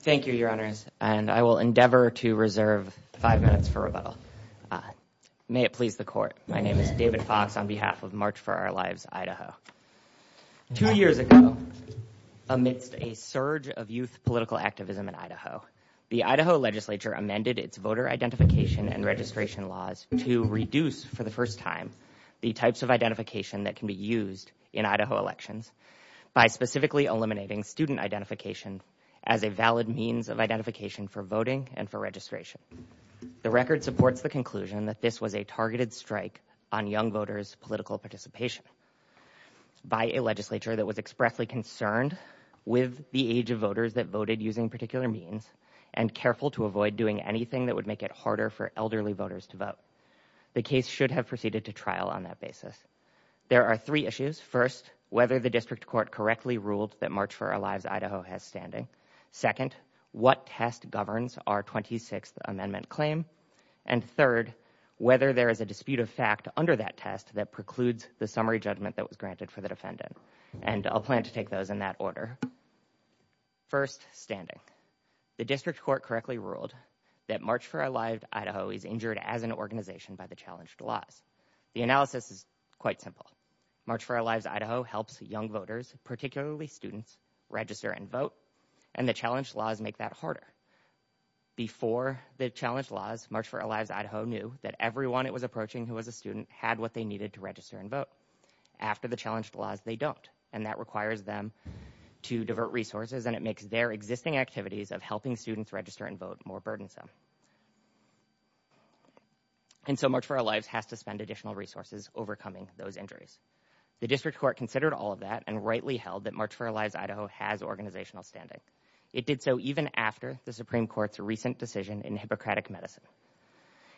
Thank you, your honors, and I will endeavor to reserve five minutes for rebuttal. May it please the court, my name is David Fox on behalf of March For Our Lives Idaho. Two years ago, amidst a surge of youth political activism in Idaho, the Idaho legislature amended its voter identification and registration laws to reduce for the first time the types of identification that can be used in Idaho elections by specifically eliminating student identification as a valid means of identification for voting and for registration. The record supports the conclusion that this was a targeted strike on young voters' political participation by a legislature that was expressly concerned with the age of voters that voted using particular means and careful to avoid doing anything that would make it harder for elderly voters to vote. The case should have proceeded to trial on that basis. There are three issues. First, whether the district court correctly ruled that March For Our Lives Idaho has standing. Second, what test governs our 26th amendment claim. And third, whether there is a dispute of fact under that test that precludes the summary judgment that was granted for the defendant. And I'll plan to take those in that order. First, standing. The district court correctly ruled that March For Our Lives Idaho is injured as an organization by the challenged laws. The analysis is quite simple. March For Our Lives Idaho helps young voters, particularly students, register and vote. And the challenged laws make that harder. Before the challenged laws, March For Our Lives Idaho knew that everyone it was approaching who was a student had what they needed to register and vote. After the challenged laws, they don't. And that requires them to divert resources and it makes their existing activities of helping students register and vote more burdensome. And so March For Our Lives has to spend additional resources overcoming those injuries. The district court considered all of that and rightly held that March For Our Lives Idaho has organizational standing. It did so even after the Supreme Court's recent decision in Hippocratic Medicine,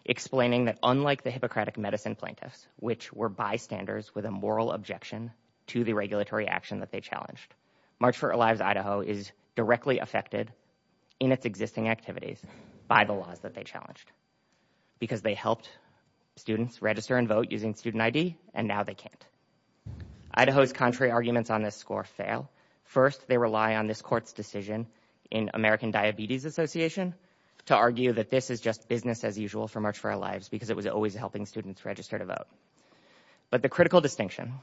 explaining that unlike the Hippocratic Medicine plaintiffs, which were bystanders with a moral objection to the regulatory action that they March For Our Lives Idaho is directly affected in its existing activities by the laws that they challenged because they helped students register and vote using student I.D. and now they can't. Idaho's contrary arguments on this score fail. First, they rely on this court's decision in American Diabetes Association to argue that this is just business as usual for March For Our Lives because it was always helping students register to vote. But the critical distinction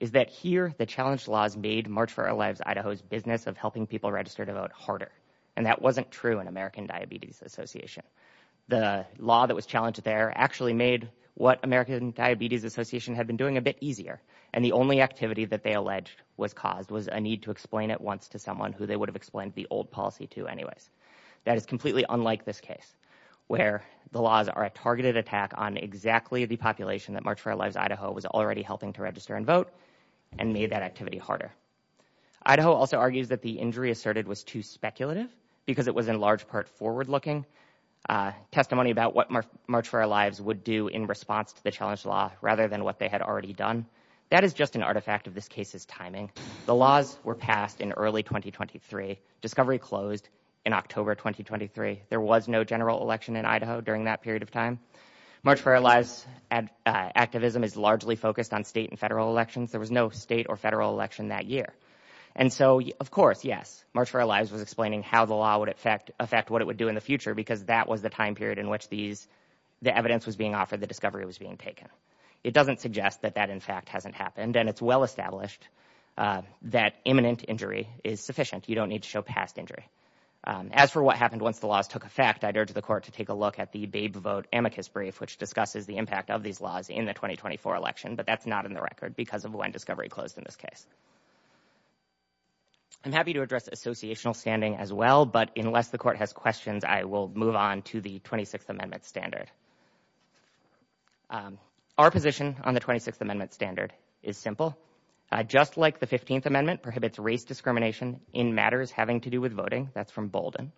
is that here the challenge laws made March For Our Lives Idaho's business of helping people register to vote harder. And that wasn't true in American Diabetes Association. The law that was challenged there actually made what American Diabetes Association had been doing a bit easier. And the only activity that they alleged was caused was a need to explain it once to someone who they would have explained the old policy to anyways. That is completely unlike this case, where the laws are a targeted attack on exactly the population that March For Our Lives Idaho helped register and vote and made that activity harder. Idaho also argues that the injury asserted was too speculative because it was in large part forward-looking testimony about what March For Our Lives would do in response to the challenge law rather than what they had already done. That is just an artifact of this case's timing. The laws were passed in early 2023. Discovery closed in October 2023. There was no general election in Idaho during that period of elections. There was no state or federal election that year. And so, of course, yes, March For Our Lives was explaining how the law would affect what it would do in the future because that was the time period in which the evidence was being offered, the discovery was being taken. It doesn't suggest that that in fact hasn't happened. And it's well established that imminent injury is sufficient. You don't need to show past injury. As for what happened once the laws took effect, I'd urge the court to take a look at the Babe Vote amicus brief, which discusses the impact of these laws in the 2024 election, but that's not in the record because of when Discovery closed in this case. I'm happy to address associational standing as well, but unless the court has questions, I will move on to the 26th Amendment standard. Our position on the 26th Amendment standard is simple. Just like the 15th Amendment prohibits race discrimination in matters having to do with voting, that's from Bolden,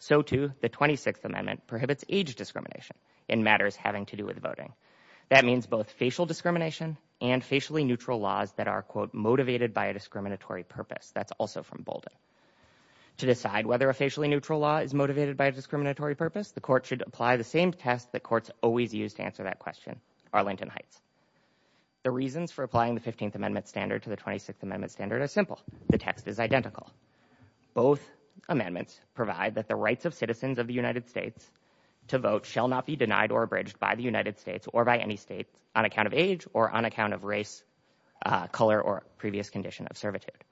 so too the 26th Amendment prohibits age discrimination in matters having to do with voting. That means both facial discrimination and facially neutral laws that are, quote, motivated by a discriminatory purpose. That's also from Bolden. To decide whether a facially neutral law is motivated by a discriminatory purpose, the court should apply the same test that courts always use to answer that question, Arlington Heights. The reasons for applying the 15th Amendment standard to the 26th Amendment standard are simple. The text is identical. Both amendments provide that the rights of citizens of the United States to vote shall not be denied or abridged by the United States or by any state on account of age or on account of race, color, or previous condition of servitude.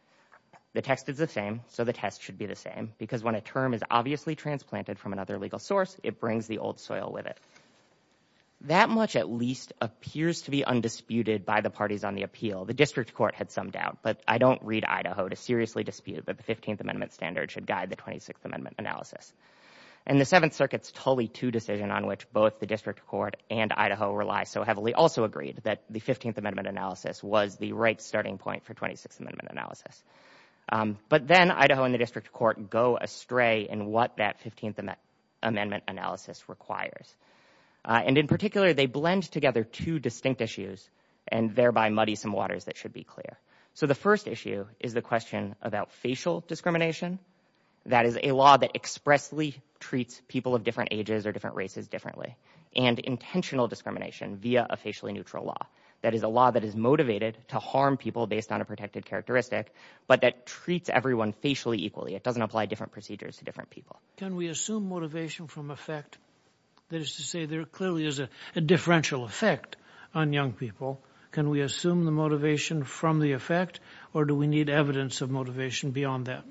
The text is the same, so the test should be the same, because when a term is obviously transplanted from another legal source, it brings the old soil with it. That much at least appears to be undisputed by the parties on the appeal. The district court had some doubt, but I don't read Idaho to seriously dispute that the 15th Amendment standard should guide the 26th Amendment analysis. And the Seventh Circuit's Tully II decision on which both the district court and Idaho rely so heavily also agreed that the 15th Amendment analysis was the right starting point for 26th Amendment analysis. But then Idaho and the district court go astray in what that 15th Amendment analysis requires. And in particular, they blend together two distinct issues and thereby muddy some waters that should be clear. So the first issue is the question about facial discrimination. That is a law that expressly treats people of different ages or different races differently. And intentional discrimination via a facially neutral law. That is a law that is motivated to harm people based on a protected characteristic, but that treats everyone facially equally. It doesn't apply different procedures to different people. Can we assume motivation from effect? That is to say there clearly is a differential effect on young people. Can we the motivation from the effect or do we need evidence of motivation beyond that?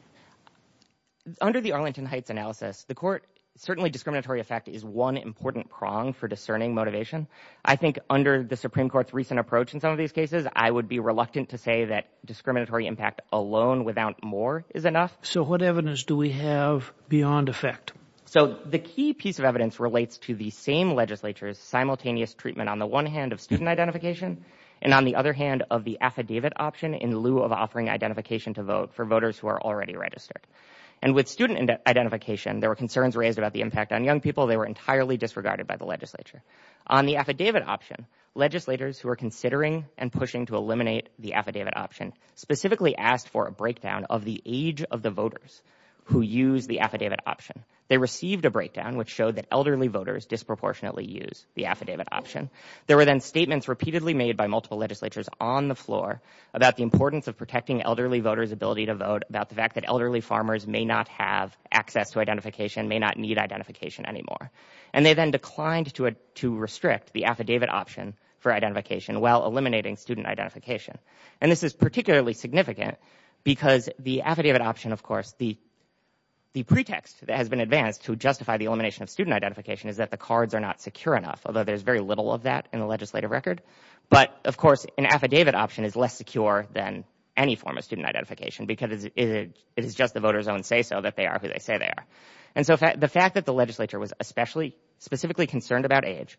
Under the Arlington Heights analysis, the court certainly discriminatory effect is one important prong for discerning motivation. I think under the Supreme Court's recent approach in some of these cases, I would be reluctant to say that discriminatory impact alone without more is enough. So what evidence do we have beyond effect? So the key piece of evidence relates to the same simultaneous treatment on the one hand of student identification and on the other hand of the affidavit option in lieu of offering identification to vote for voters who are already registered. And with student identification, there were concerns raised about the impact on young people. They were entirely disregarded by the legislature. On the affidavit option, legislators who are considering and pushing to eliminate the affidavit option specifically asked for a breakdown of the age of the voters who use the affidavit option. They received a breakdown which showed that voters disproportionately use the affidavit option. There were then statements repeatedly made by multiple legislatures on the floor about the importance of protecting elderly voters ability to vote about the fact that elderly farmers may not have access to identification, may not need identification anymore. And they then declined to restrict the affidavit option for identification while eliminating student identification. And this is particularly significant because the affidavit option, of course, the pretext that has been advanced to the elimination of student identification is that the cards are not secure enough, although there's very little of that in the legislative record. But, of course, an affidavit option is less secure than any form of student identification because it is just the voters own say so that they are who they say they are. And so the fact that the legislature was especially specifically concerned about age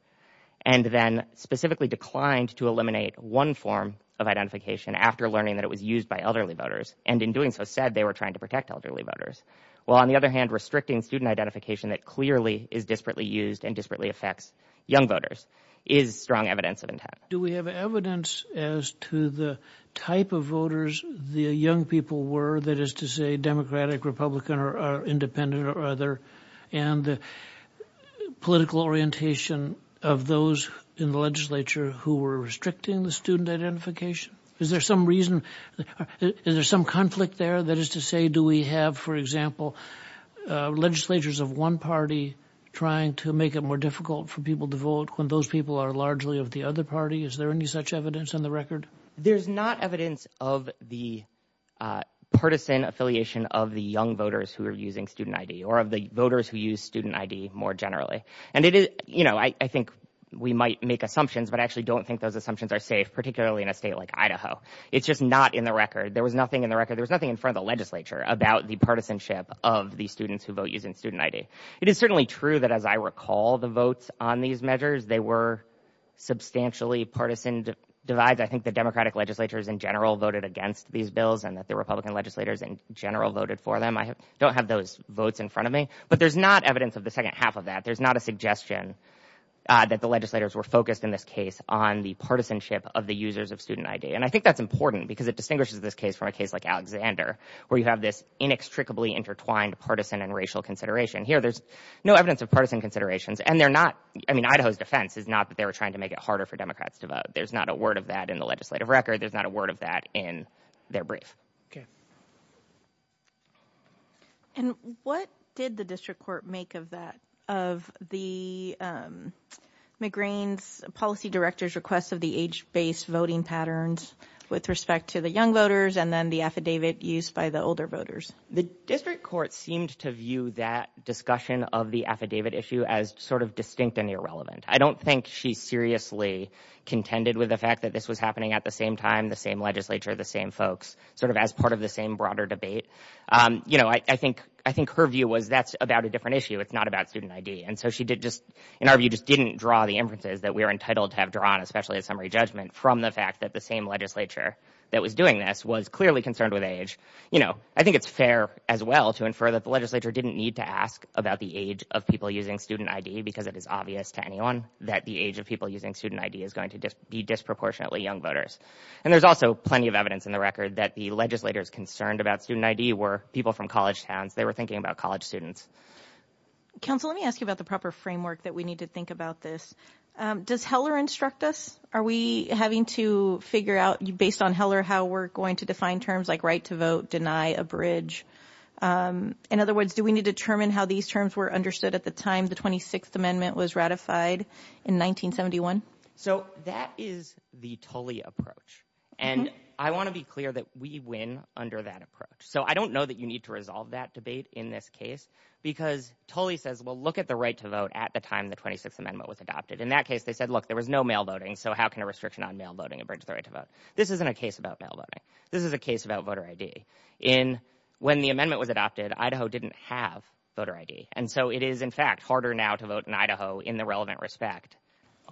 and then specifically declined to eliminate one form of identification after learning that it was used by elderly voters and in doing so said they were restricting student identification that clearly is disparately used and disparately affects young voters is strong evidence of intent. Do we have evidence as to the type of voters the young people were that is to say Democratic, Republican or Independent or other and the political orientation of those in the legislature who were restricting the student identification? Is there some reason, is there some conflict there that is to say do we have, for example, legislatures of one party trying to make it more difficult for people to vote when those people are largely of the other party? Is there any such evidence on the record? There's not evidence of the partisan affiliation of the young voters who are using student ID or of the voters who use student ID more generally. And it is, you know, I think we might make assumptions, but I actually don't think those assumptions are safe, particularly in a state like Idaho. It's just not in the record. There was nothing in the record. There's nothing in front of the legislature about the partisanship of the students who vote using student ID. It is certainly true that as I recall the votes on these measures, they were substantially partisan divides. I think the Democratic legislatures in general voted against these bills and that the Republican legislators in general voted for them. I don't have those votes in front of me, but there's not evidence of the second half of that. There's not a suggestion that the legislators were focused in this case on the partisanship of the users of student ID. And I think that's important because it distinguishes this case from a case like Alexander where you have this inextricably intertwined partisan and racial consideration. Here there's no evidence of partisan considerations and they're not, I mean, Idaho's defense is not that they were trying to make it harder for Democrats to vote. There's not a word of that in the legislative record. There's not a word of that in their brief. Okay. And what did the district court make of that, of the McGrain's policy director's request of the age-based voting patterns with respect to the young voters and then the affidavit used by the older voters? The district court seemed to view that discussion of the affidavit issue as sort of distinct and irrelevant. I don't think she seriously contended with the fact that this was happening at the same time, the same legislature, the same folks, sort of as part of the same broader debate. You know, I think her view was that's about a different issue. It's not about student ID. And so she did just, in our view, just didn't draw the inferences that we're entitled to have drawn, especially a summary judgment from the fact that the same legislature that was doing this was clearly concerned with age. You know, I think it's fair as well to infer that the legislature didn't need to ask about the age of people using student ID because it is obvious to anyone that the age of people using student ID is going to be disproportionately young voters. And there's also plenty of evidence in the record that the legislators concerned about student ID were people from college towns. They were thinking about college students. Counsel, let me ask you about the proper framework that we need to think about this. Does Heller instruct us? Are we having to figure out, based on Heller, how we're going to define terms like right to vote, deny, abridge? In other words, do we need to determine how these terms were understood at the time the 26th Amendment was ratified in 1971? So that is the Tolley approach. And I want to be clear that we win under that approach. So I don't know that you need to resolve that debate in this case because Tolley says, well, look at the right to vote at the time the 26th Amendment was adopted. In that case, they said, look, there was no mail voting. So how can a restriction on mail voting abridge the right to vote? This isn't a case about mail voting. This is a case about voter ID. When the amendment was adopted, Idaho didn't have voter ID. And so it is, in fact, harder now to vote in Idaho in the relevant respect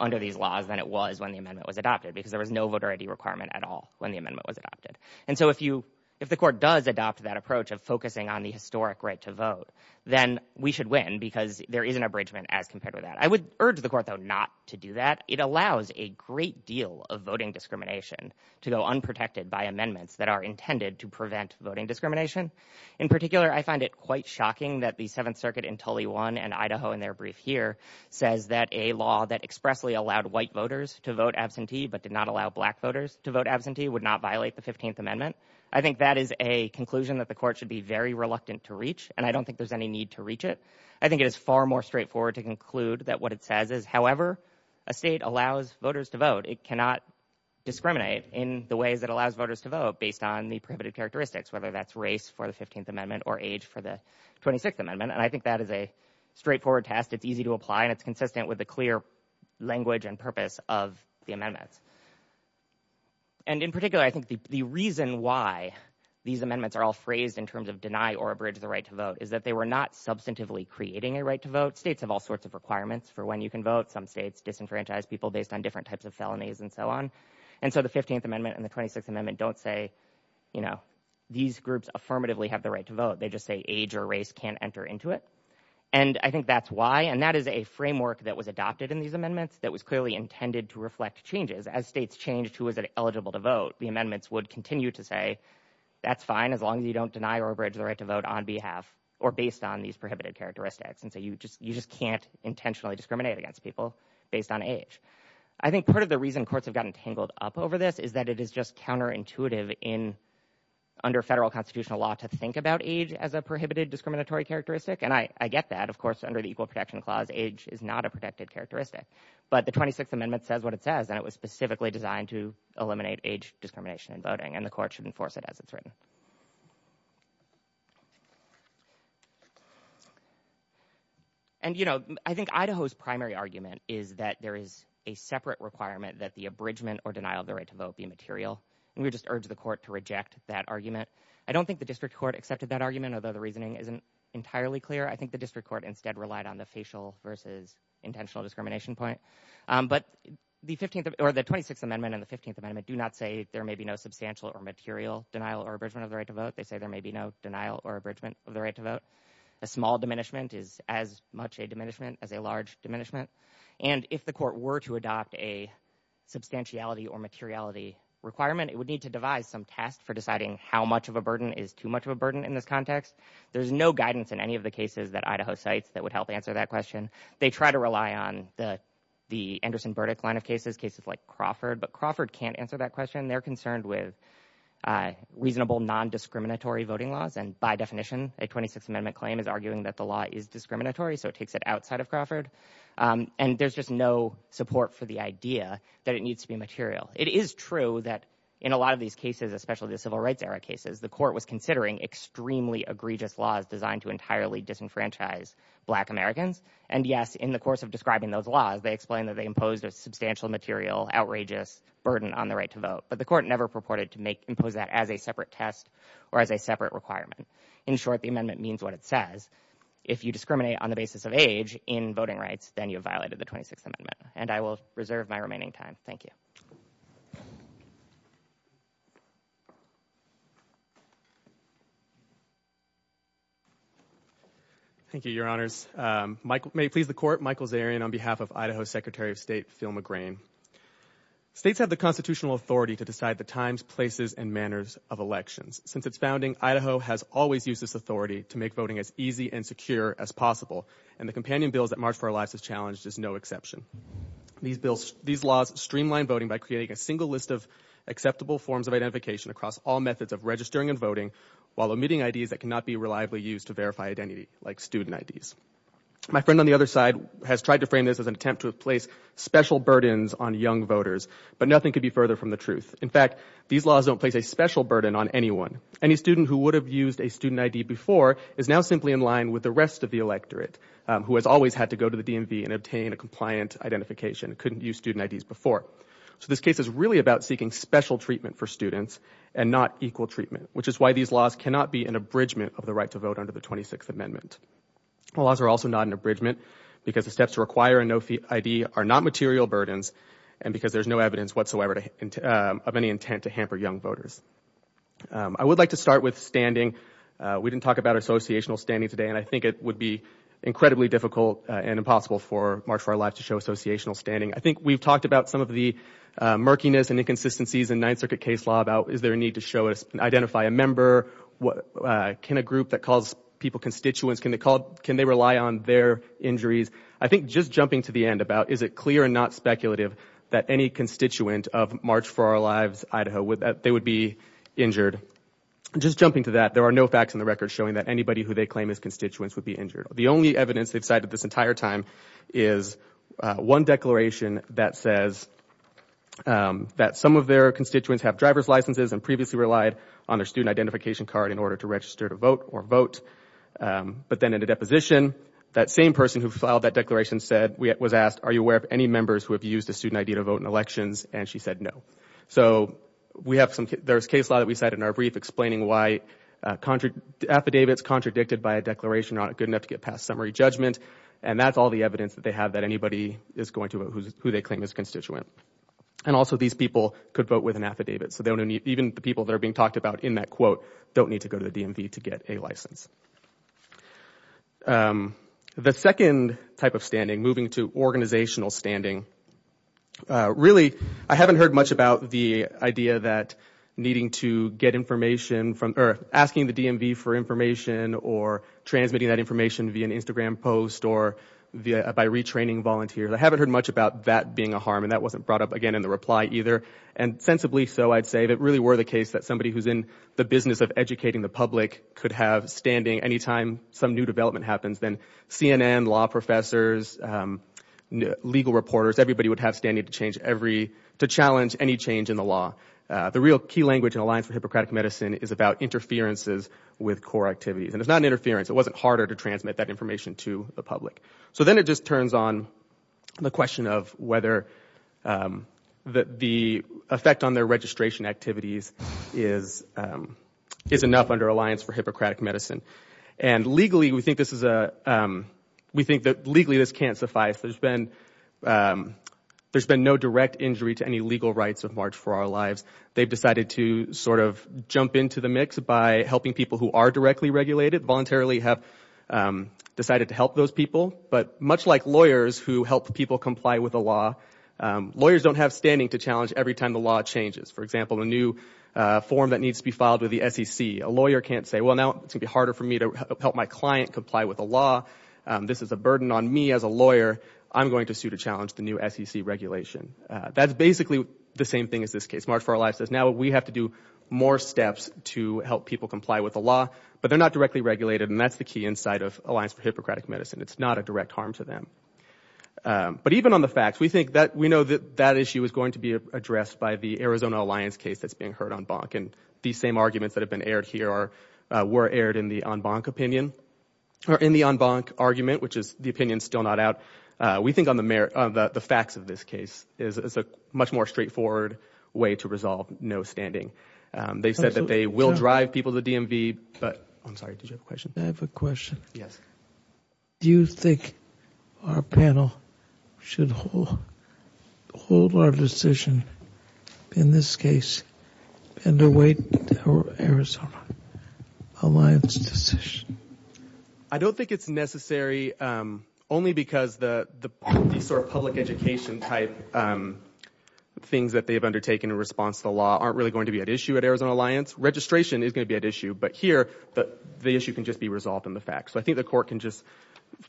under these laws than it was when the amendment was adopted because there was no voter ID requirement at all when the amendment was adopted. And so if you if the court does adopt that focusing on the historic right to vote, then we should win because there is an abridgment as compared with that. I would urge the court, though, not to do that. It allows a great deal of voting discrimination to go unprotected by amendments that are intended to prevent voting discrimination. In particular, I find it quite shocking that the Seventh Circuit in Tolley 1 and Idaho in their brief here says that a law that expressly allowed white voters to vote absentee but did not allow black voters to vote absentee would not violate the 15th Amendment. I think that is a conclusion that the court should be very reluctant to reach, and I don't think there's any need to reach it. I think it is far more straightforward to conclude that what it says is, however, a state allows voters to vote, it cannot discriminate in the ways that allows voters to vote based on the prohibitive characteristics, whether that's race for the 15th Amendment or age for the 26th Amendment. And I think that is a straightforward test. It's easy to apply and it's consistent with the clear language and purpose of the amendments. And in particular, I think the reason why these amendments are all phrased in terms of deny or abridge the right to vote is that they were not substantively creating a right to vote. States have all sorts of requirements for when you can vote. Some states disenfranchise people based on different types of felonies and so on. And so the 15th Amendment and the 26th Amendment don't say, you know, these groups affirmatively have the right to vote. They just say age or race can't enter into it. And I think that's why. And that is a framework that was adopted in these amendments that was clearly intended to reflect changes as states changed who was eligible to vote. The amendments would continue to say that's fine as long as you don't deny or abridge the right to vote on behalf or based on these prohibited characteristics. And so you just you just can't intentionally discriminate against people based on age. I think part of the reason courts have gotten tangled up over this is that it is just counterintuitive in under federal constitutional law to think about age as a prohibited discriminatory characteristic. And I get that, of course, under the Equal Protection Clause, age is not a protected characteristic. But the 26th Amendment says what it says, and it was specifically designed to eliminate age discrimination in voting and the court should enforce it as it's written. And, you know, I think Idaho's primary argument is that there is a separate requirement that the abridgment or denial of the right to vote be material. And we just urge the court to reject that argument. I don't think the district court accepted that argument, although the reasoning isn't entirely clear. I think the district court instead relied on the facial versus intentional discrimination point. But the 15th or the 26th Amendment and the 15th Amendment do not say there may be no substantial or material denial or abridgment of the right to vote. They say there may be no denial or abridgment of the right to vote. A small diminishment is as much a diminishment as a large diminishment. And if the court were to adopt a substantiality or materiality requirement, it would need to devise some test for deciding how much of a burden is too much of a burden. There's no guidance in any of the cases that Idaho cites that would help answer that question. They try to rely on the Anderson-Burdick line of cases, cases like Crawford, but Crawford can't answer that question. They're concerned with reasonable non-discriminatory voting laws. And by definition, a 26th Amendment claim is arguing that the law is discriminatory, so it takes it outside of Crawford. And there's just no support for the idea that it needs to be material. It is true that in a lot of these cases, especially the civil rights era cases, the court was considering extremely egregious laws designed to entirely disenfranchise Black Americans. And yes, in the course of describing those laws, they explained that they imposed a substantial material, outrageous burden on the right to vote. But the court never purported to impose that as a separate test or as a separate requirement. In short, the amendment means what it says. If you discriminate on the basis of age in voting rights, then you have violated the 26th Amendment. And I will move on to Michael Zarian. Thank you, Your Honors. May it please the Court, Michael Zarian on behalf of Idaho Secretary of State Phil McGrain. States have the constitutional authority to decide the times, places, and manners of elections. Since its founding, Idaho has always used this authority to make voting as easy and secure as possible. And the companion bills that March for Our Lives has challenged is no exception. These laws streamline voting by creating a single list of acceptable forms of identification across all methods of registering and voting, while omitting IDs that cannot be reliably used to verify identity, like student IDs. My friend on the other side has tried to frame this as an attempt to place special burdens on young voters. But nothing could be further from the truth. In fact, these laws don't place a special burden on anyone. Any student who would have used a student ID before is now simply in line with the rest of the electorate, who has always had to go to the DMV and obtain a compliant identification, couldn't use student IDs before. So this case is really about seeking special treatment for students and not equal treatment, which is why these laws cannot be an abridgment of the right to vote under the 26th Amendment. The laws are also not an abridgment because the steps to require a no ID are not material burdens and because there's no evidence whatsoever of any intent to hamper young voters. I would like to start with standing. We didn't talk about associational standing today, and I think it would be incredibly difficult and impossible for March for Our Lives to show murkiness and inconsistencies in Ninth Circuit case law about, is there a need to show us, identify a member? Can a group that calls people constituents, can they rely on their injuries? I think just jumping to the end about, is it clear and not speculative that any constituent of March for Our Lives, Idaho, they would be injured? Just jumping to that, there are no facts in the record showing that anybody who they claim as constituents would be injured. The only evidence they've cited this entire time is one declaration that says that some of their constituents have driver's licenses and previously relied on their student identification card in order to register to vote or vote. But then in a deposition, that same person who filed that declaration said, was asked, are you aware of any members who have used a student ID to vote in elections? And she said, no. So we have some, there's case law that we cited in our brief explaining why affidavits contradicted by a declaration are not good enough to get past summary judgment. And that's all the evidence that they have that anybody is going to vote who they claim is a constituent. And also these people could vote with an affidavit. So even the people that are being talked about in that quote don't need to go to the DMV to get a license. The second type of standing, moving to organizational standing, really I haven't heard much about the idea that needing to get information from, or asking the DMV for information or transmitting that information via an Instagram post or by retraining volunteers. I haven't heard much about that being a harm. And that wasn't brought up again in the reply either. And sensibly so, I'd say, if it really were the case that somebody who's in the business of educating the public could have standing anytime some new development happens, then CNN, law professors, legal reporters, everybody would have standing to change every, to challenge any change in the law. The real key language in Alliance for Hippocratic Medicine is about interferences with core activities. And it's not an interference. It wasn't harder to transmit that information to the public. So then it just turns on the question of whether the effect on their registration activities is enough under Alliance for Hippocratic Medicine. And legally, we think this is a, we think that legally this can't suffice. There's been no direct injury to any legal rights of March for Our Lives. They've decided to sort of jump into the mix by helping people who are directly regulated, voluntarily have decided to help those people. But much like lawyers who help people comply with the law, lawyers don't have standing to challenge every time the law changes. For example, a new form that needs to be filed with the SEC, a lawyer can't say, well, now it's gonna be harder for me to help my client comply with the law. This is a burden on me as a lawyer. I'm going to sue to challenge the new SEC regulation. That's basically the same thing as this case. March for Our Lives says, now we have to do more steps to help people comply with the law, but they're not directly regulated, and that's the key insight of Alliance for Hippocratic Medicine. It's not a direct harm to them. But even on the facts, we think that, we know that that issue is going to be addressed by the Arizona Alliance case that's being heard on Bonk. And these same arguments that have been aired here are, were aired in the on Bonk opinion, or in the on Bonk argument, which is the opinion still not out. We think on the merits, the facts of this case is a much more straightforward way to resolve no standing. They said that they will drive people to DMV, but I'm sorry, did you have a question? I have a question. Yes. Do you think our panel should hold our decision in this case, and await Arizona Alliance decision? I don't think it's necessary, only because the sort of public education type things that they've undertaken in response to the law aren't really going to be at issue at Arizona Alliance. Registration is going to be at issue, but here, the issue can just be resolved in the facts. So I think the court can just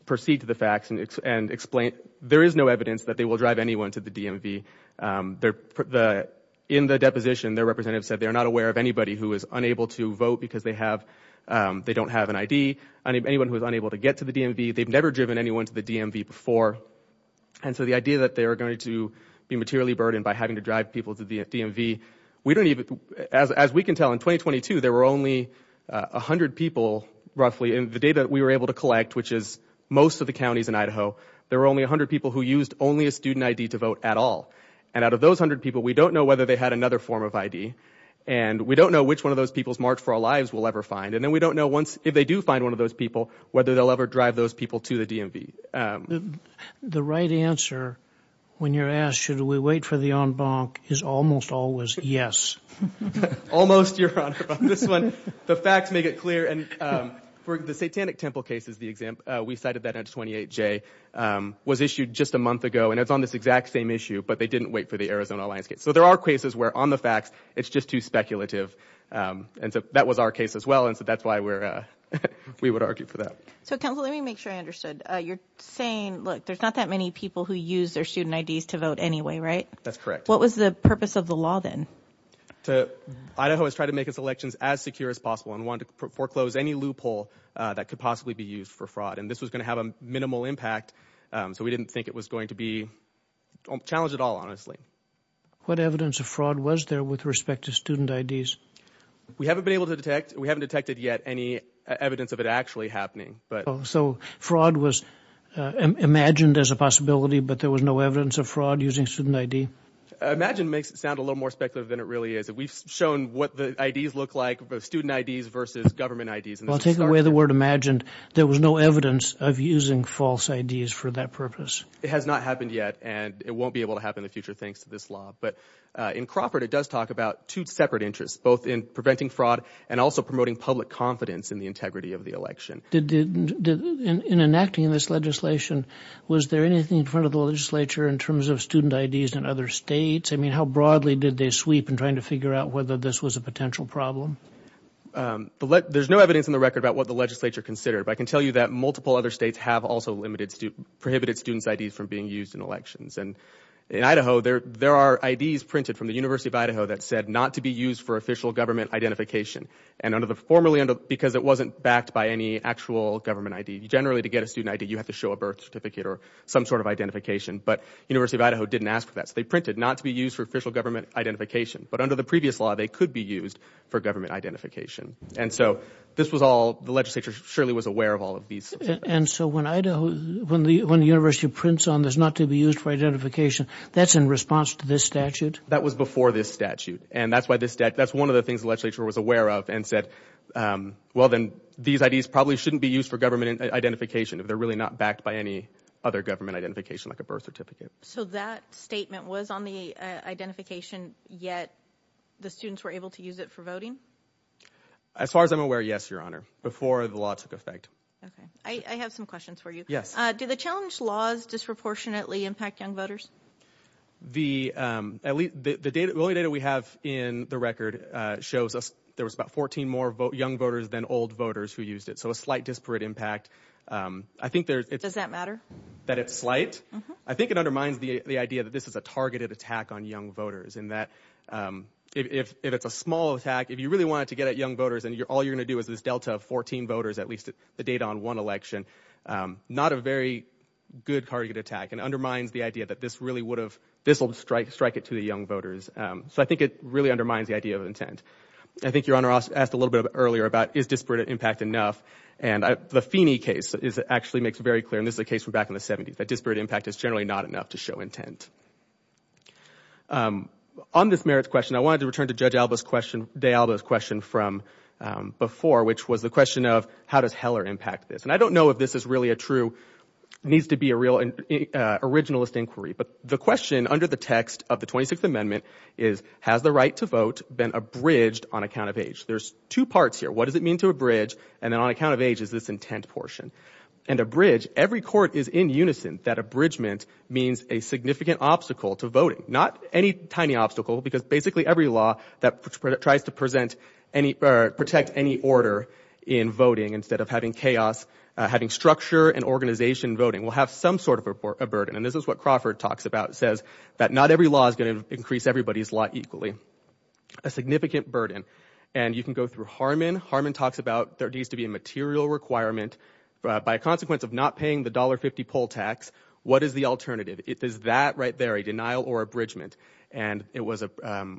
proceed to the facts and explain, there is no evidence that they will drive anyone to the DMV. In the deposition, their representative said they're not aware of anybody who is unable to vote because they don't have an ID, anyone who is unable to get to the DMV. They've never driven anyone to the DMV before, and so the idea that they are going to be materially burdened by having to drive people to the DMV, we don't even, as we can tell, in 2022, there were only 100 people, roughly, in the data that we were able to collect, which is most of the counties in Idaho, there were only 100 people who used only a student ID to vote at all, and out of those 100 people, we don't know whether they had another form of ID, and we don't know which one of those people's March for Our Lives we'll ever find, and then we don't know once, if they do find one of those people, whether they'll ever drive those people to the DMV. The right answer, when you're asked, should we wait for the en banc, is almost always yes. Almost, Your Honor, on this one, the facts make it clear, and for the Satanic Temple case is the example, we cited that in 28J, was issued just a month ago, and it's on this exact same issue, but they didn't wait for the and so that was our case as well, and so that's why we're, we would argue for that. So counsel, let me make sure I understood, you're saying, look, there's not that many people who use their student IDs to vote anyway, right? That's correct. What was the purpose of the law then? To, Idaho has tried to make its elections as secure as possible and wanted to foreclose any loophole that could possibly be used for fraud, and this was going to have a minimal impact, so we didn't think it was going to be challenged at all, honestly. What evidence of fraud was there with respect to student IDs? We haven't been able to detect, we haven't detected yet any evidence of it actually happening, but. So fraud was imagined as a possibility, but there was no evidence of fraud using student ID? Imagine makes it sound a little more speculative than it really is. We've shown what the IDs look like, student IDs versus government IDs. Well, take away the word imagined, there was no evidence of using false IDs for that purpose. It has not happened yet, and it won't be able to happen in the future, thanks to this law, but in Crawford, it does talk about two separate interests, both in preventing fraud and also promoting public confidence in the integrity of the election. In enacting this legislation, was there anything in front of the legislature in terms of student IDs in other states? I mean, how broadly did they sweep in trying to figure out whether this was a potential problem? There's no evidence in the record about what the legislature considered, but I can tell you that multiple other states have also prohibited student IDs from being used in elections. In Idaho, there are IDs printed from the University of Idaho that said not to be used for official government identification, because it wasn't backed by any actual government ID. Generally, to get a student ID, you have to show a birth certificate or some sort of identification, but the University of Idaho didn't ask for that. So they printed not to be used for official government identification, but under the previous law, they could be used for government identification. The legislature surely was aware of all of these. And so when the university prints on there's not to be used for identification, that's in response to this statute? That was before this statute, and that's why this statute, that's one of the things the legislature was aware of and said, well, then these IDs probably shouldn't be used for government identification if they're really not backed by any other government identification, like a birth certificate. So that statement was on the identification, yet the students were able to use it for voting? As far as I'm aware, yes, Your Honor, before the law took effect. Okay, I have some questions for you. Yes. Do the challenge laws disproportionately impact young voters? The only data we have in the record shows us there was about 14 more young voters than old voters who used it. So a slight disparate impact. I think there's... Does that matter? That it's slight? I think it undermines the idea that this is a targeted attack on young voters, and that if it's a small attack, if you really wanted to get at young voters, all you're going to do is this delta of 14 voters, at least the data on one election. Not a very good targeted attack, and undermines the idea that this really would have, this will strike it to the young voters. So I think it really undermines the idea of intent. I think Your Honor asked a little bit earlier about, is disparate impact enough? And the Feeney case actually makes very clear, and this is a case from back in the 70s, that disparate impact is generally not enough to show intent. On this merits question, I wanted to return to Judge Alba's question, from before, which was the question of, how does Heller impact this? And I don't know if this is really a true, needs to be a real originalist inquiry, but the question under the text of the 26th Amendment is, has the right to vote been abridged on account of age? There's two parts here. What does it mean to abridge? And then on account of age is this intent portion. And abridge, every court is in unison that abridgment means a significant obstacle to voting. Not any tiny obstacle, because basically every law that tries to protect any order in voting, instead of having chaos, having structure and organization voting, will have some sort of a burden. And this is what Crawford talks about, says that not every law is going to increase everybody's lot equally. A significant burden. And you can go through Harman. Harman talks about there needs to be a material requirement. By consequence of not paying the $1.50 poll tax, what is the alternative? It is that right there, a denial or abridgment. And it was a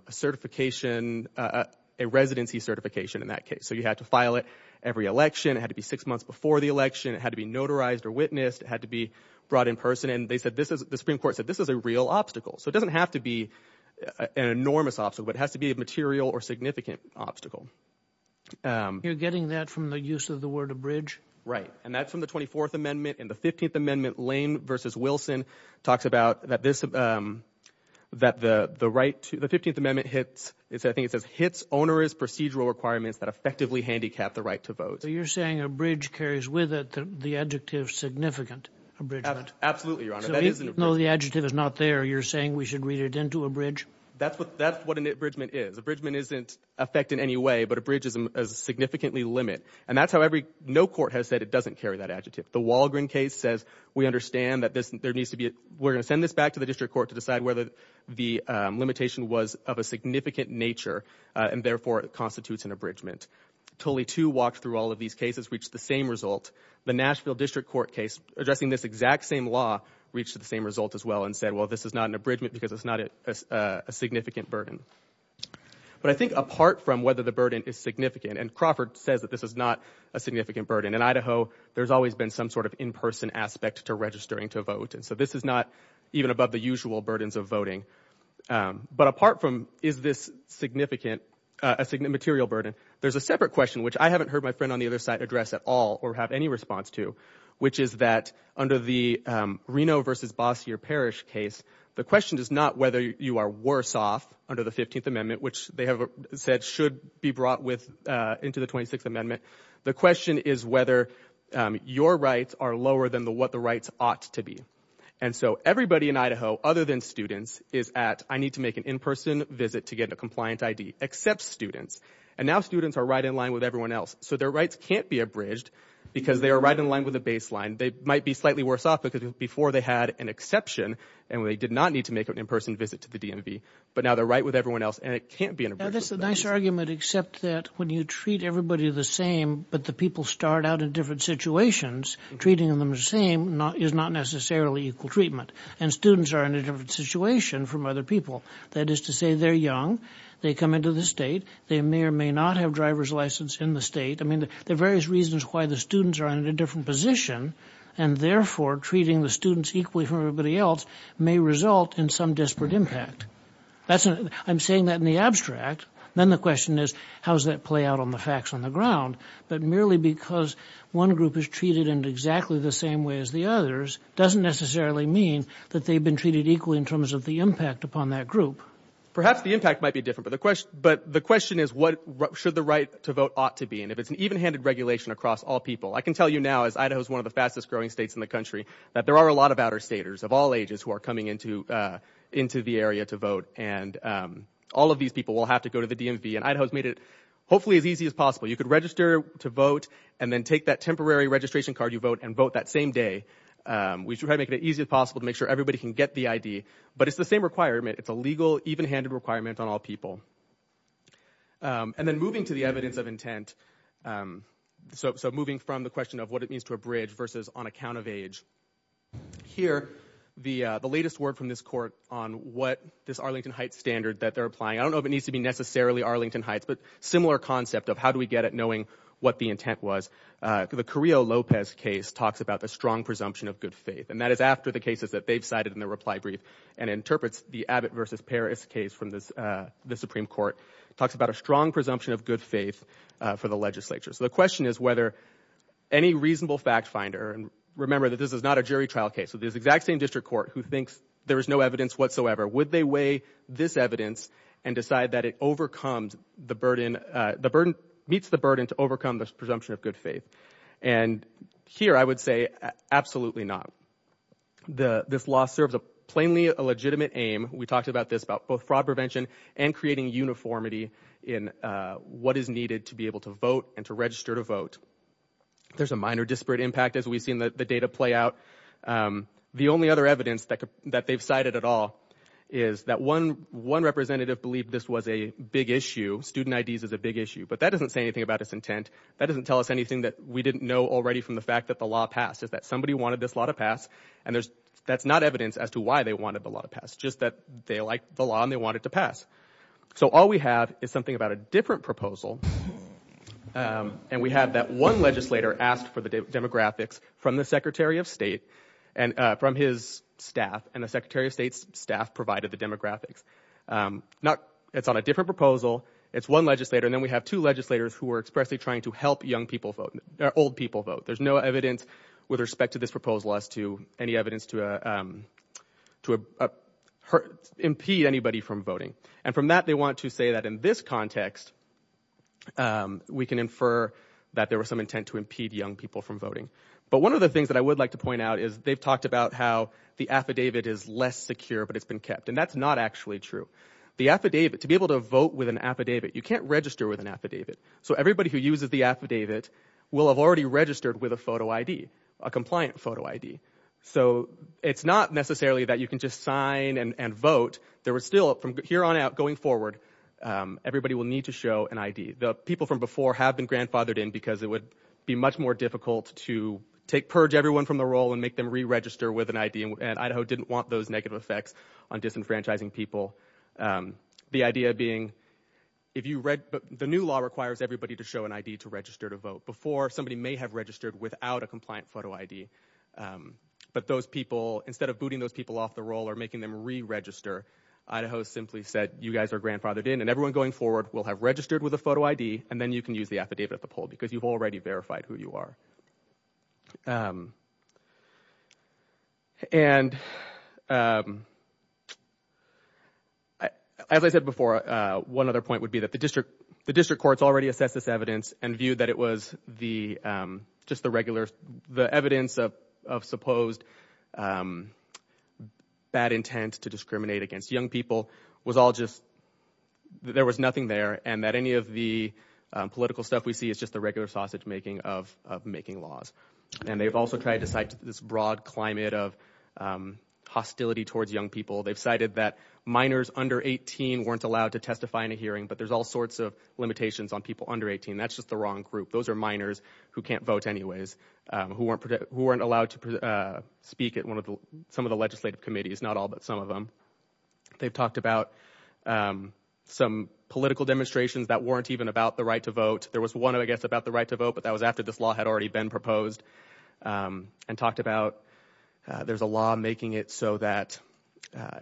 certification, a residency certification in that case. So you had to file it every election. It had to be six months before the election. It had to be notarized or witnessed. It had to be brought in person. And they said this is, the Supreme Court said this is a real obstacle. So it doesn't have to be an enormous obstacle. It has to be a material or significant obstacle. You're getting that from the use of the word abridge? Right. And that's from the 24th Amendment. And the 15th Amendment, Lane v. Wilson, talks about that this, that the right to, the 15th Amendment hits, I think it says, hits onerous procedural requirements that effectively handicap the right to vote. So you're saying abridge carries with it the adjective significant abridgement? Absolutely, Your Honor. So even though the adjective is not there, you're saying we should read it into abridge? That's what an abridgement is. Abridgement isn't effect in any way, but abridge is a significantly limit. And that's how every, no court has said it doesn't carry that adjective. The Walgreen case says we understand that this, there needs to be, we're going to send this back to the district court to decide whether the limitation was of a significant nature, and therefore it constitutes an abridgement. Tully too walked through all of these cases, reached the same result. The Nashville District Court case addressing this exact same law reached the same result as well and said, well, this is not an abridgement because it's not a significant burden. But I think apart from whether the burden is significant, and Crawford says that this is not a significant burden, in Idaho, there's always been some sort of in-person aspect to registering to vote. And so this is not even above the usual burdens of voting. But apart from is this significant, a significant material burden, there's a separate question which I haven't heard my friend on the other side address at all or have any response to, which is that under the Reno versus Bossier Parish case, the question is not whether you are worse off under the 15th Amendment, which they have said should be brought with into the 26th Amendment. The question is whether your rights are lower than what the rights ought to be. And so everybody in Idaho, other than students, is at, I need to make an in-person visit to get a compliant ID, except students. And now students are right in line with everyone else. So their rights can't be abridged because they are right in line with the baseline. They might be slightly worse off because before they had an exception and they did not need to make an in-person visit to the DMV. But now they're right with everyone else and it can't be an abridgement. That's a nice argument, except that when you treat everybody the same, but the people start out in different situations, treating them the same is not necessarily equal treatment. And students are in a different situation from other people. That is to say, they're young. They come into the state. They may or may not have driver's license in the state. I mean, there are various reasons why the students are in a different position. And therefore, treating the students equally for everybody else may result in some desperate impact. That's, I'm saying that in the abstract. Then the question is, how does that play out on the facts on the ground? But merely because one group is treated in exactly the same way as the others doesn't necessarily mean that they've been treated equally in terms of the impact upon that group. Perhaps the impact might be different. But the question is, what should the right to vote ought to be? And if it's an even-handed regulation across all people, I can tell you now, as Idaho is one of the fastest growing states in the country, that there are a lot of outer staters of all ages who are coming into the area to vote. And all of these people will have to go to the DMV. And Idaho has made it hopefully as easy as possible. You could register to vote and then take that temporary registration card you vote and vote that same day. We try to make it as easy as possible to make sure everybody can get the ID. But it's the same requirement. It's a legal, even-handed requirement on all people. And then moving to the evidence of intent. So moving from the question of what it means to abridge versus on account of age. Here, the latest word from this court on what this Arlington Heights standard that they're applying. I don't know if it needs to be necessarily Arlington Heights, but similar concept of how do we get at knowing what the intent was. The Carrillo-Lopez case talks about the strong presumption of good faith. And that is after the cases that they've cited in the reply brief. And interprets the Abbott versus Paris case from the Supreme Court. Talks about a strong presumption of good faith for the legislature. So the question is whether any reasonable fact finder, remember that this is not a jury trial case. So this exact same district court who thinks there is no evidence whatsoever. Would they weigh this evidence and decide that it overcomes the burden, meets the burden to overcome this presumption of good faith. And here I would say absolutely not. This law serves a plainly a legitimate aim. We talked about this about both fraud prevention and creating uniformity in what is needed to be able to vote and to register to vote. There's a minor disparate impact as we've seen the data play out. The only other evidence that they've cited at all is that one representative believed this was a big issue. Student IDs is a big issue. But that doesn't say anything about its intent. That doesn't tell us anything that we didn't know already from the fact that the law passed. Is that somebody wanted this law to pass. And that's not evidence as to why they wanted the law to pass. Just that they liked the law and they wanted to pass. So all we have is something about a different proposal. And we have that one legislator asked for the demographics from the Secretary of State and from his staff and the Secretary of State's staff provided the demographics. It's on a different proposal. It's one legislator. And then we have two legislators who are expressly trying to help young people vote, old people vote. There's no evidence with respect to this proposal as to any evidence to impede anybody from voting. And from that, they want to say that in this context, we can infer that there was some intent to impede young people from voting. But one of the things that I would like to point out is they've talked about how the affidavit is less secure, but it's been kept. And that's not actually true. The affidavit, to be able to vote with an affidavit, you can't register with an affidavit. So everybody who uses the affidavit will have already registered with a photo ID, a compliant photo ID. So it's not necessarily that you can just sign and vote. There was still, from here on out, going forward, everybody will need to show an ID. The people from before have been grandfathered in because it would be much more difficult to take purge everyone from the role and make them re-register with an ID. And Idaho didn't want those negative effects on disenfranchising people. The new law requires everybody to show an ID to register to vote. Before, somebody may have registered without a compliant photo ID. But those people, instead of booting those people off the role or making them re-register, Idaho simply said, you guys are grandfathered in, and everyone going forward will have registered with a photo ID, and then you can use the affidavit at the poll because you've already verified who you are. And as I said before, one other point would be that the district courts already assessed this evidence and viewed that it was just the evidence of supposed bad intent to discriminate against young people. There was nothing there, and that any of the political stuff we see is just the regular sausage-making of making laws. And they've also tried to cite this broad climate of hostility towards young people. They've cited that minors under 18 weren't allowed to testify in a hearing, but there's all sorts of limitations on people under 18. That's just the wrong group. Those are minors who can't vote anyways, who weren't allowed to speak at some of the legislative committees, not all but some of them. They've talked about some political demonstrations that weren't even about the right to vote. There was one, I guess, about the right to vote, but that was after this law had already been proposed, and talked about there's a law making it so that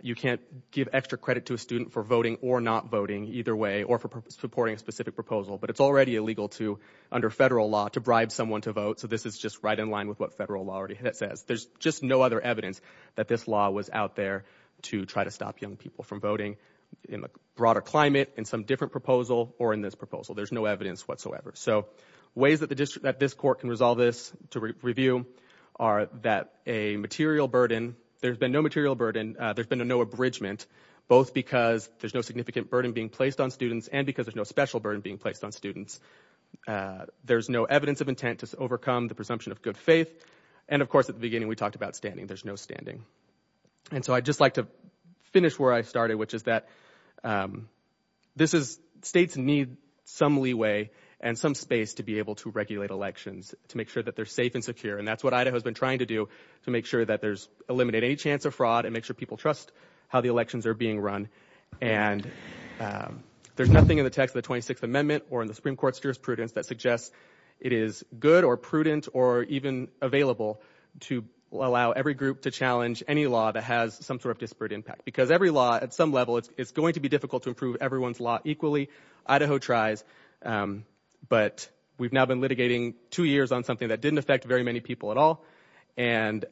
you can't give extra credit to a student for voting or not voting, either way, or for supporting a specific proposal. But it's already illegal to, under federal law, to bribe someone to vote, so this is just right in line with what federal law already says. There's just no other evidence that this law was out there to try to stop young people from voting in a broader climate, in some different proposal, or in this proposal. There's no evidence whatsoever. So ways that this court can resolve this to review are that a material burden, there's been no material burden, there's been no abridgment, both because there's no significant burden being placed on students and because there's no special burden being placed on students. There's no evidence of intent to overcome the presumption of good faith. And, of course, at the beginning, we talked about standing. There's no standing. And so I'd just like to finish where I started, which is that states need some leeway and some space to be able to regulate elections, to make sure that they're safe and secure. And that's what Idaho has been trying to do, to make sure that there's eliminated any chance of fraud and make sure people trust how the elections are being run. And there's nothing in the text of the 26th Amendment or in the Supreme Court's jurisprudence that suggests it is good or prudent or even available to allow every group to challenge any law that has some sort of disparate impact, because every law at some level, it's going to be difficult to improve everyone's law equally. Idaho tries, but we've now been litigating two years on something that didn't affect very many people at all. And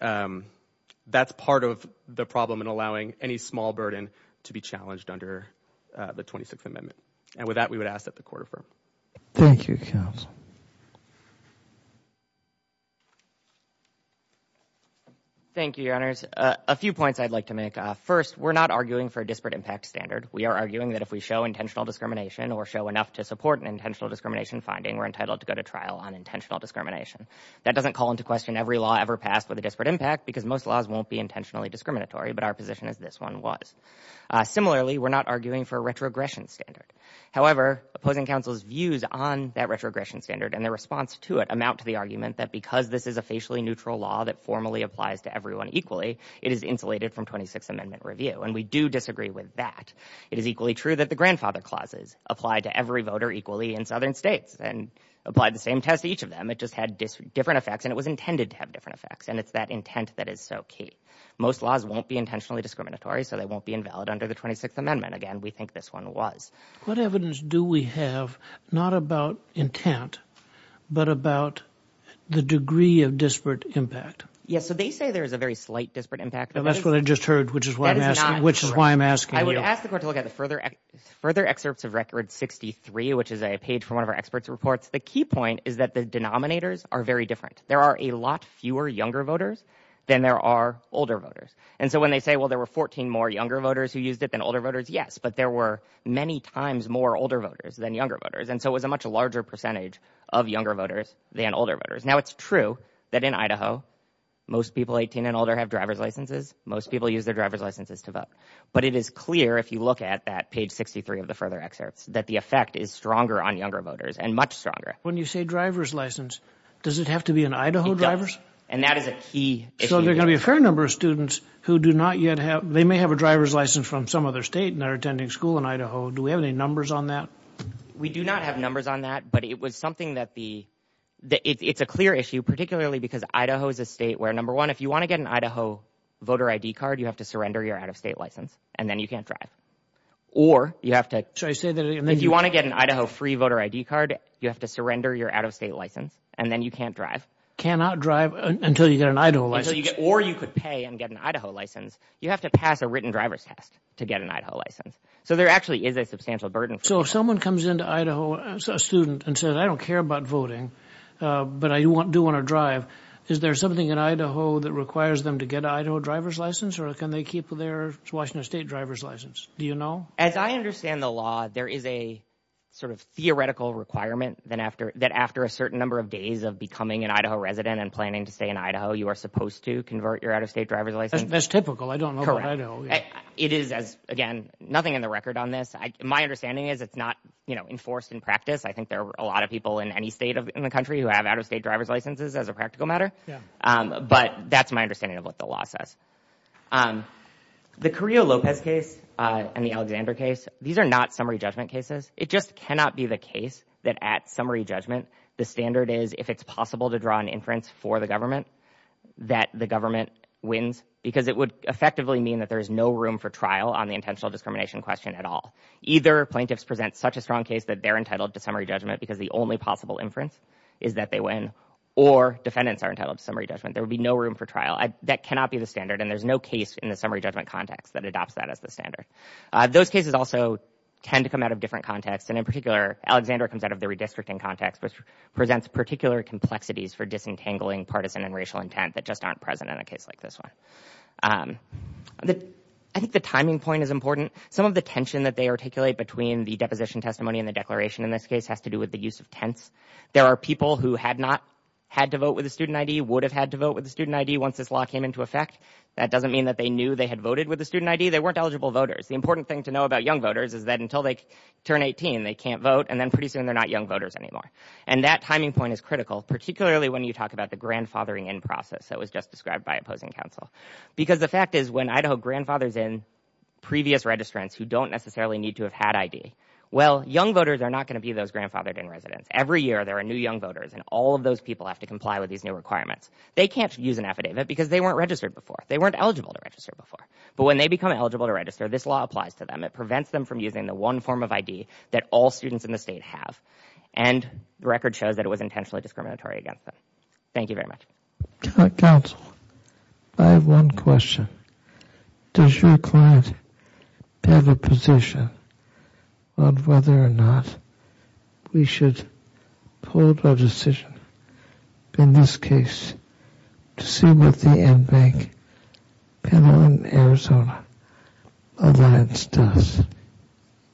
that's part of the problem in allowing any small burden to be challenged under the 26th Amendment. And with that, we would ask that the court affirm. Thank you, counsel. Thank you, Your Honors. A few points I'd like to make. First, we're not arguing for a disparate impact standard. We are arguing that if we show intentional discrimination or show enough to support an intentional discrimination finding, we're entitled to go to trial on intentional discrimination. That doesn't call into question every law ever passed with a disparate impact, because most laws won't be intentionally discriminatory, but our position is this one was. Similarly, we're not arguing for a retrogression standard. However, opposing counsel's views on that retrogression standard and their response to it amount to the argument that because this is a facially neutral law that formally applies to everyone equally, it is insulated from 26th Amendment review. And we do disagree with that. It is equally true that the grandfather clauses apply to every voter equally in southern states and apply the same test to each of them. It just had different effects, and it was intended to have different effects. And it's that intent that is so key. Most laws won't be intentionally discriminatory, so they won't be invalid under the 26th Again, we think this one was. What evidence do we have not about intent, but about the degree of disparate impact? Yes. So they say there is a very slight disparate impact. That's what I just heard, which is why I'm asking. Which is why I'm asking. I would ask the court to look at the further further excerpts of Record 63, which is a page from one of our experts reports. The key point is that the denominators are very different. There are a lot fewer younger voters than there are older voters. And so when they say, well, there were 14 more younger voters who used it than older voters, yes, but there were many times more older voters than younger voters. And so it was a much larger percentage of younger voters than older voters. Now, it's true that in Idaho, most people 18 and older have driver's licenses. Most people use their driver's licenses to vote. But it is clear, if you look at that page 63 of the further excerpts, that the effect is stronger on younger voters and much stronger. When you say driver's license, does it have to be an Idaho driver? And that is a key. So there are going to be a fair number of students who do not yet have they may have a driver's license from some other state and are attending school in Idaho. Do we have any numbers on that? We do not have numbers on that. But it was something that the it's a clear issue, particularly because Idaho is a state where, number one, if you want to get an Idaho voter ID card, you have to surrender your out of state license and then you can't drive or you have to say that if you want to get an Idaho free voter ID card, you have to surrender your out of state license and then you can't drive, cannot drive until you get an Idaho license or you could pay and get an Idaho license. You have to pass a written driver's test to get an Idaho license. So there actually is a substantial burden. So if someone comes into Idaho as a student and says, I don't care about voting, but I do want to drive. Is there something in Idaho that requires them to get an Idaho driver's license or can they keep their Washington state driver's license? Do you know? As I understand the law, there is a sort of theoretical requirement that after that, after a certain number of days of becoming an Idaho resident and planning to stay in Idaho, you are supposed to convert your out of state driver's license. That's typical. I don't know. It is, as again, nothing in the record on this. My understanding is it's not enforced in practice. I think there are a lot of people in any state in the country who have out of state driver's licenses as a practical matter. But that's my understanding of what the law says. The Carrillo Lopez case and the Alexander case, these are not summary judgment cases. It just cannot be the case that at summary judgment, the standard is if it's possible to draw an inference for the government, that the government wins because it would effectively mean that there is no room for trial on the intentional discrimination question at all. Either plaintiffs present such a strong case that they're entitled to summary judgment because the only possible inference is that they win or defendants are entitled to summary judgment. There would be no room for trial. That cannot be the standard and there's no case in the summary judgment context that adopts that as the standard. Those cases also tend to come out of different contexts and in particular, Alexander comes out of the redistricting context which presents particular complexities for disentangling partisan and racial intent that just aren't present in a case like this one. I think the timing point is important. Some of the tension that they articulate between the deposition testimony and the declaration in this case has to do with the use of tense. There are people who had not had to vote with a student ID, would have had to vote with a student ID once this law came into effect. That doesn't mean that they knew they had voted with a student ID. They weren't eligible voters. The important thing to know about young voters is that until they turn 18, they can't vote and then pretty soon, they're not young voters anymore and that timing point is critical particularly when you talk about the grandfathering in process that was just described by opposing counsel because the fact is when Idaho grandfathers in previous registrants who don't necessarily need to have had ID, well, young voters are not going to be those grandfathered in residents. Every year, there are new young voters and all of those people have to comply with these new requirements. They can't use an affidavit because they weren't registered before. They weren't eligible to register before but when they become eligible to register, this law applies to them. It prevents them from using the one form of ID that all students in the state have and the record shows that it was intentionally discriminatory against them. Thank you very much. Counsel, I have one question. Does your client have a position on whether or not we should hold a decision in this case to see what the NBank panel in Arizona alliance does?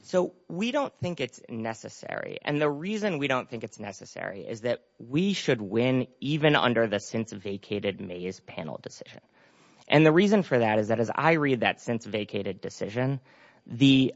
So we don't think it's necessary and the reason we don't think it's necessary is that we should win even under the since vacated Mays panel decision and the reason for that is that as I read that since vacated decision, the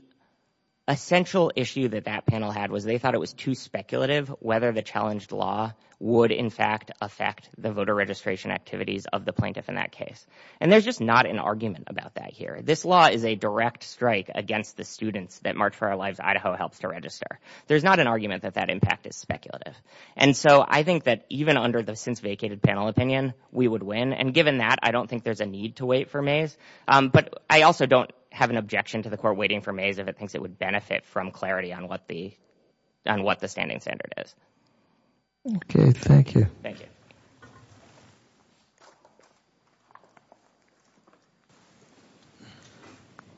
essential issue that that panel had was they thought it was too speculative whether the challenged law would in fact affect the voter registration activities of the plaintiff in that case and there's just not an argument about that here. This law is a direct strike against the students that March for Our Lives Idaho helps to register. There's not an argument that that impact is speculative and so I think that even under the since vacated panel opinion, we would win and given that, I don't think there's a need to wait for Mays but I also don't have an objection to the court waiting for Mays if it thinks it would benefit from clarity on what the standing standard is. Okay, thank you. Thank you.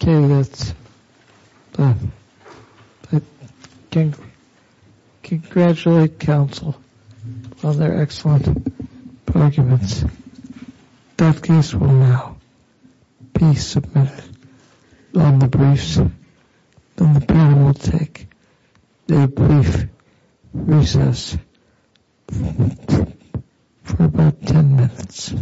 Okay, that's done. I congratulate counsel on their excellent arguments. That case will now be submitted on the briefs and the panel will take a brief recess for about 10 minutes.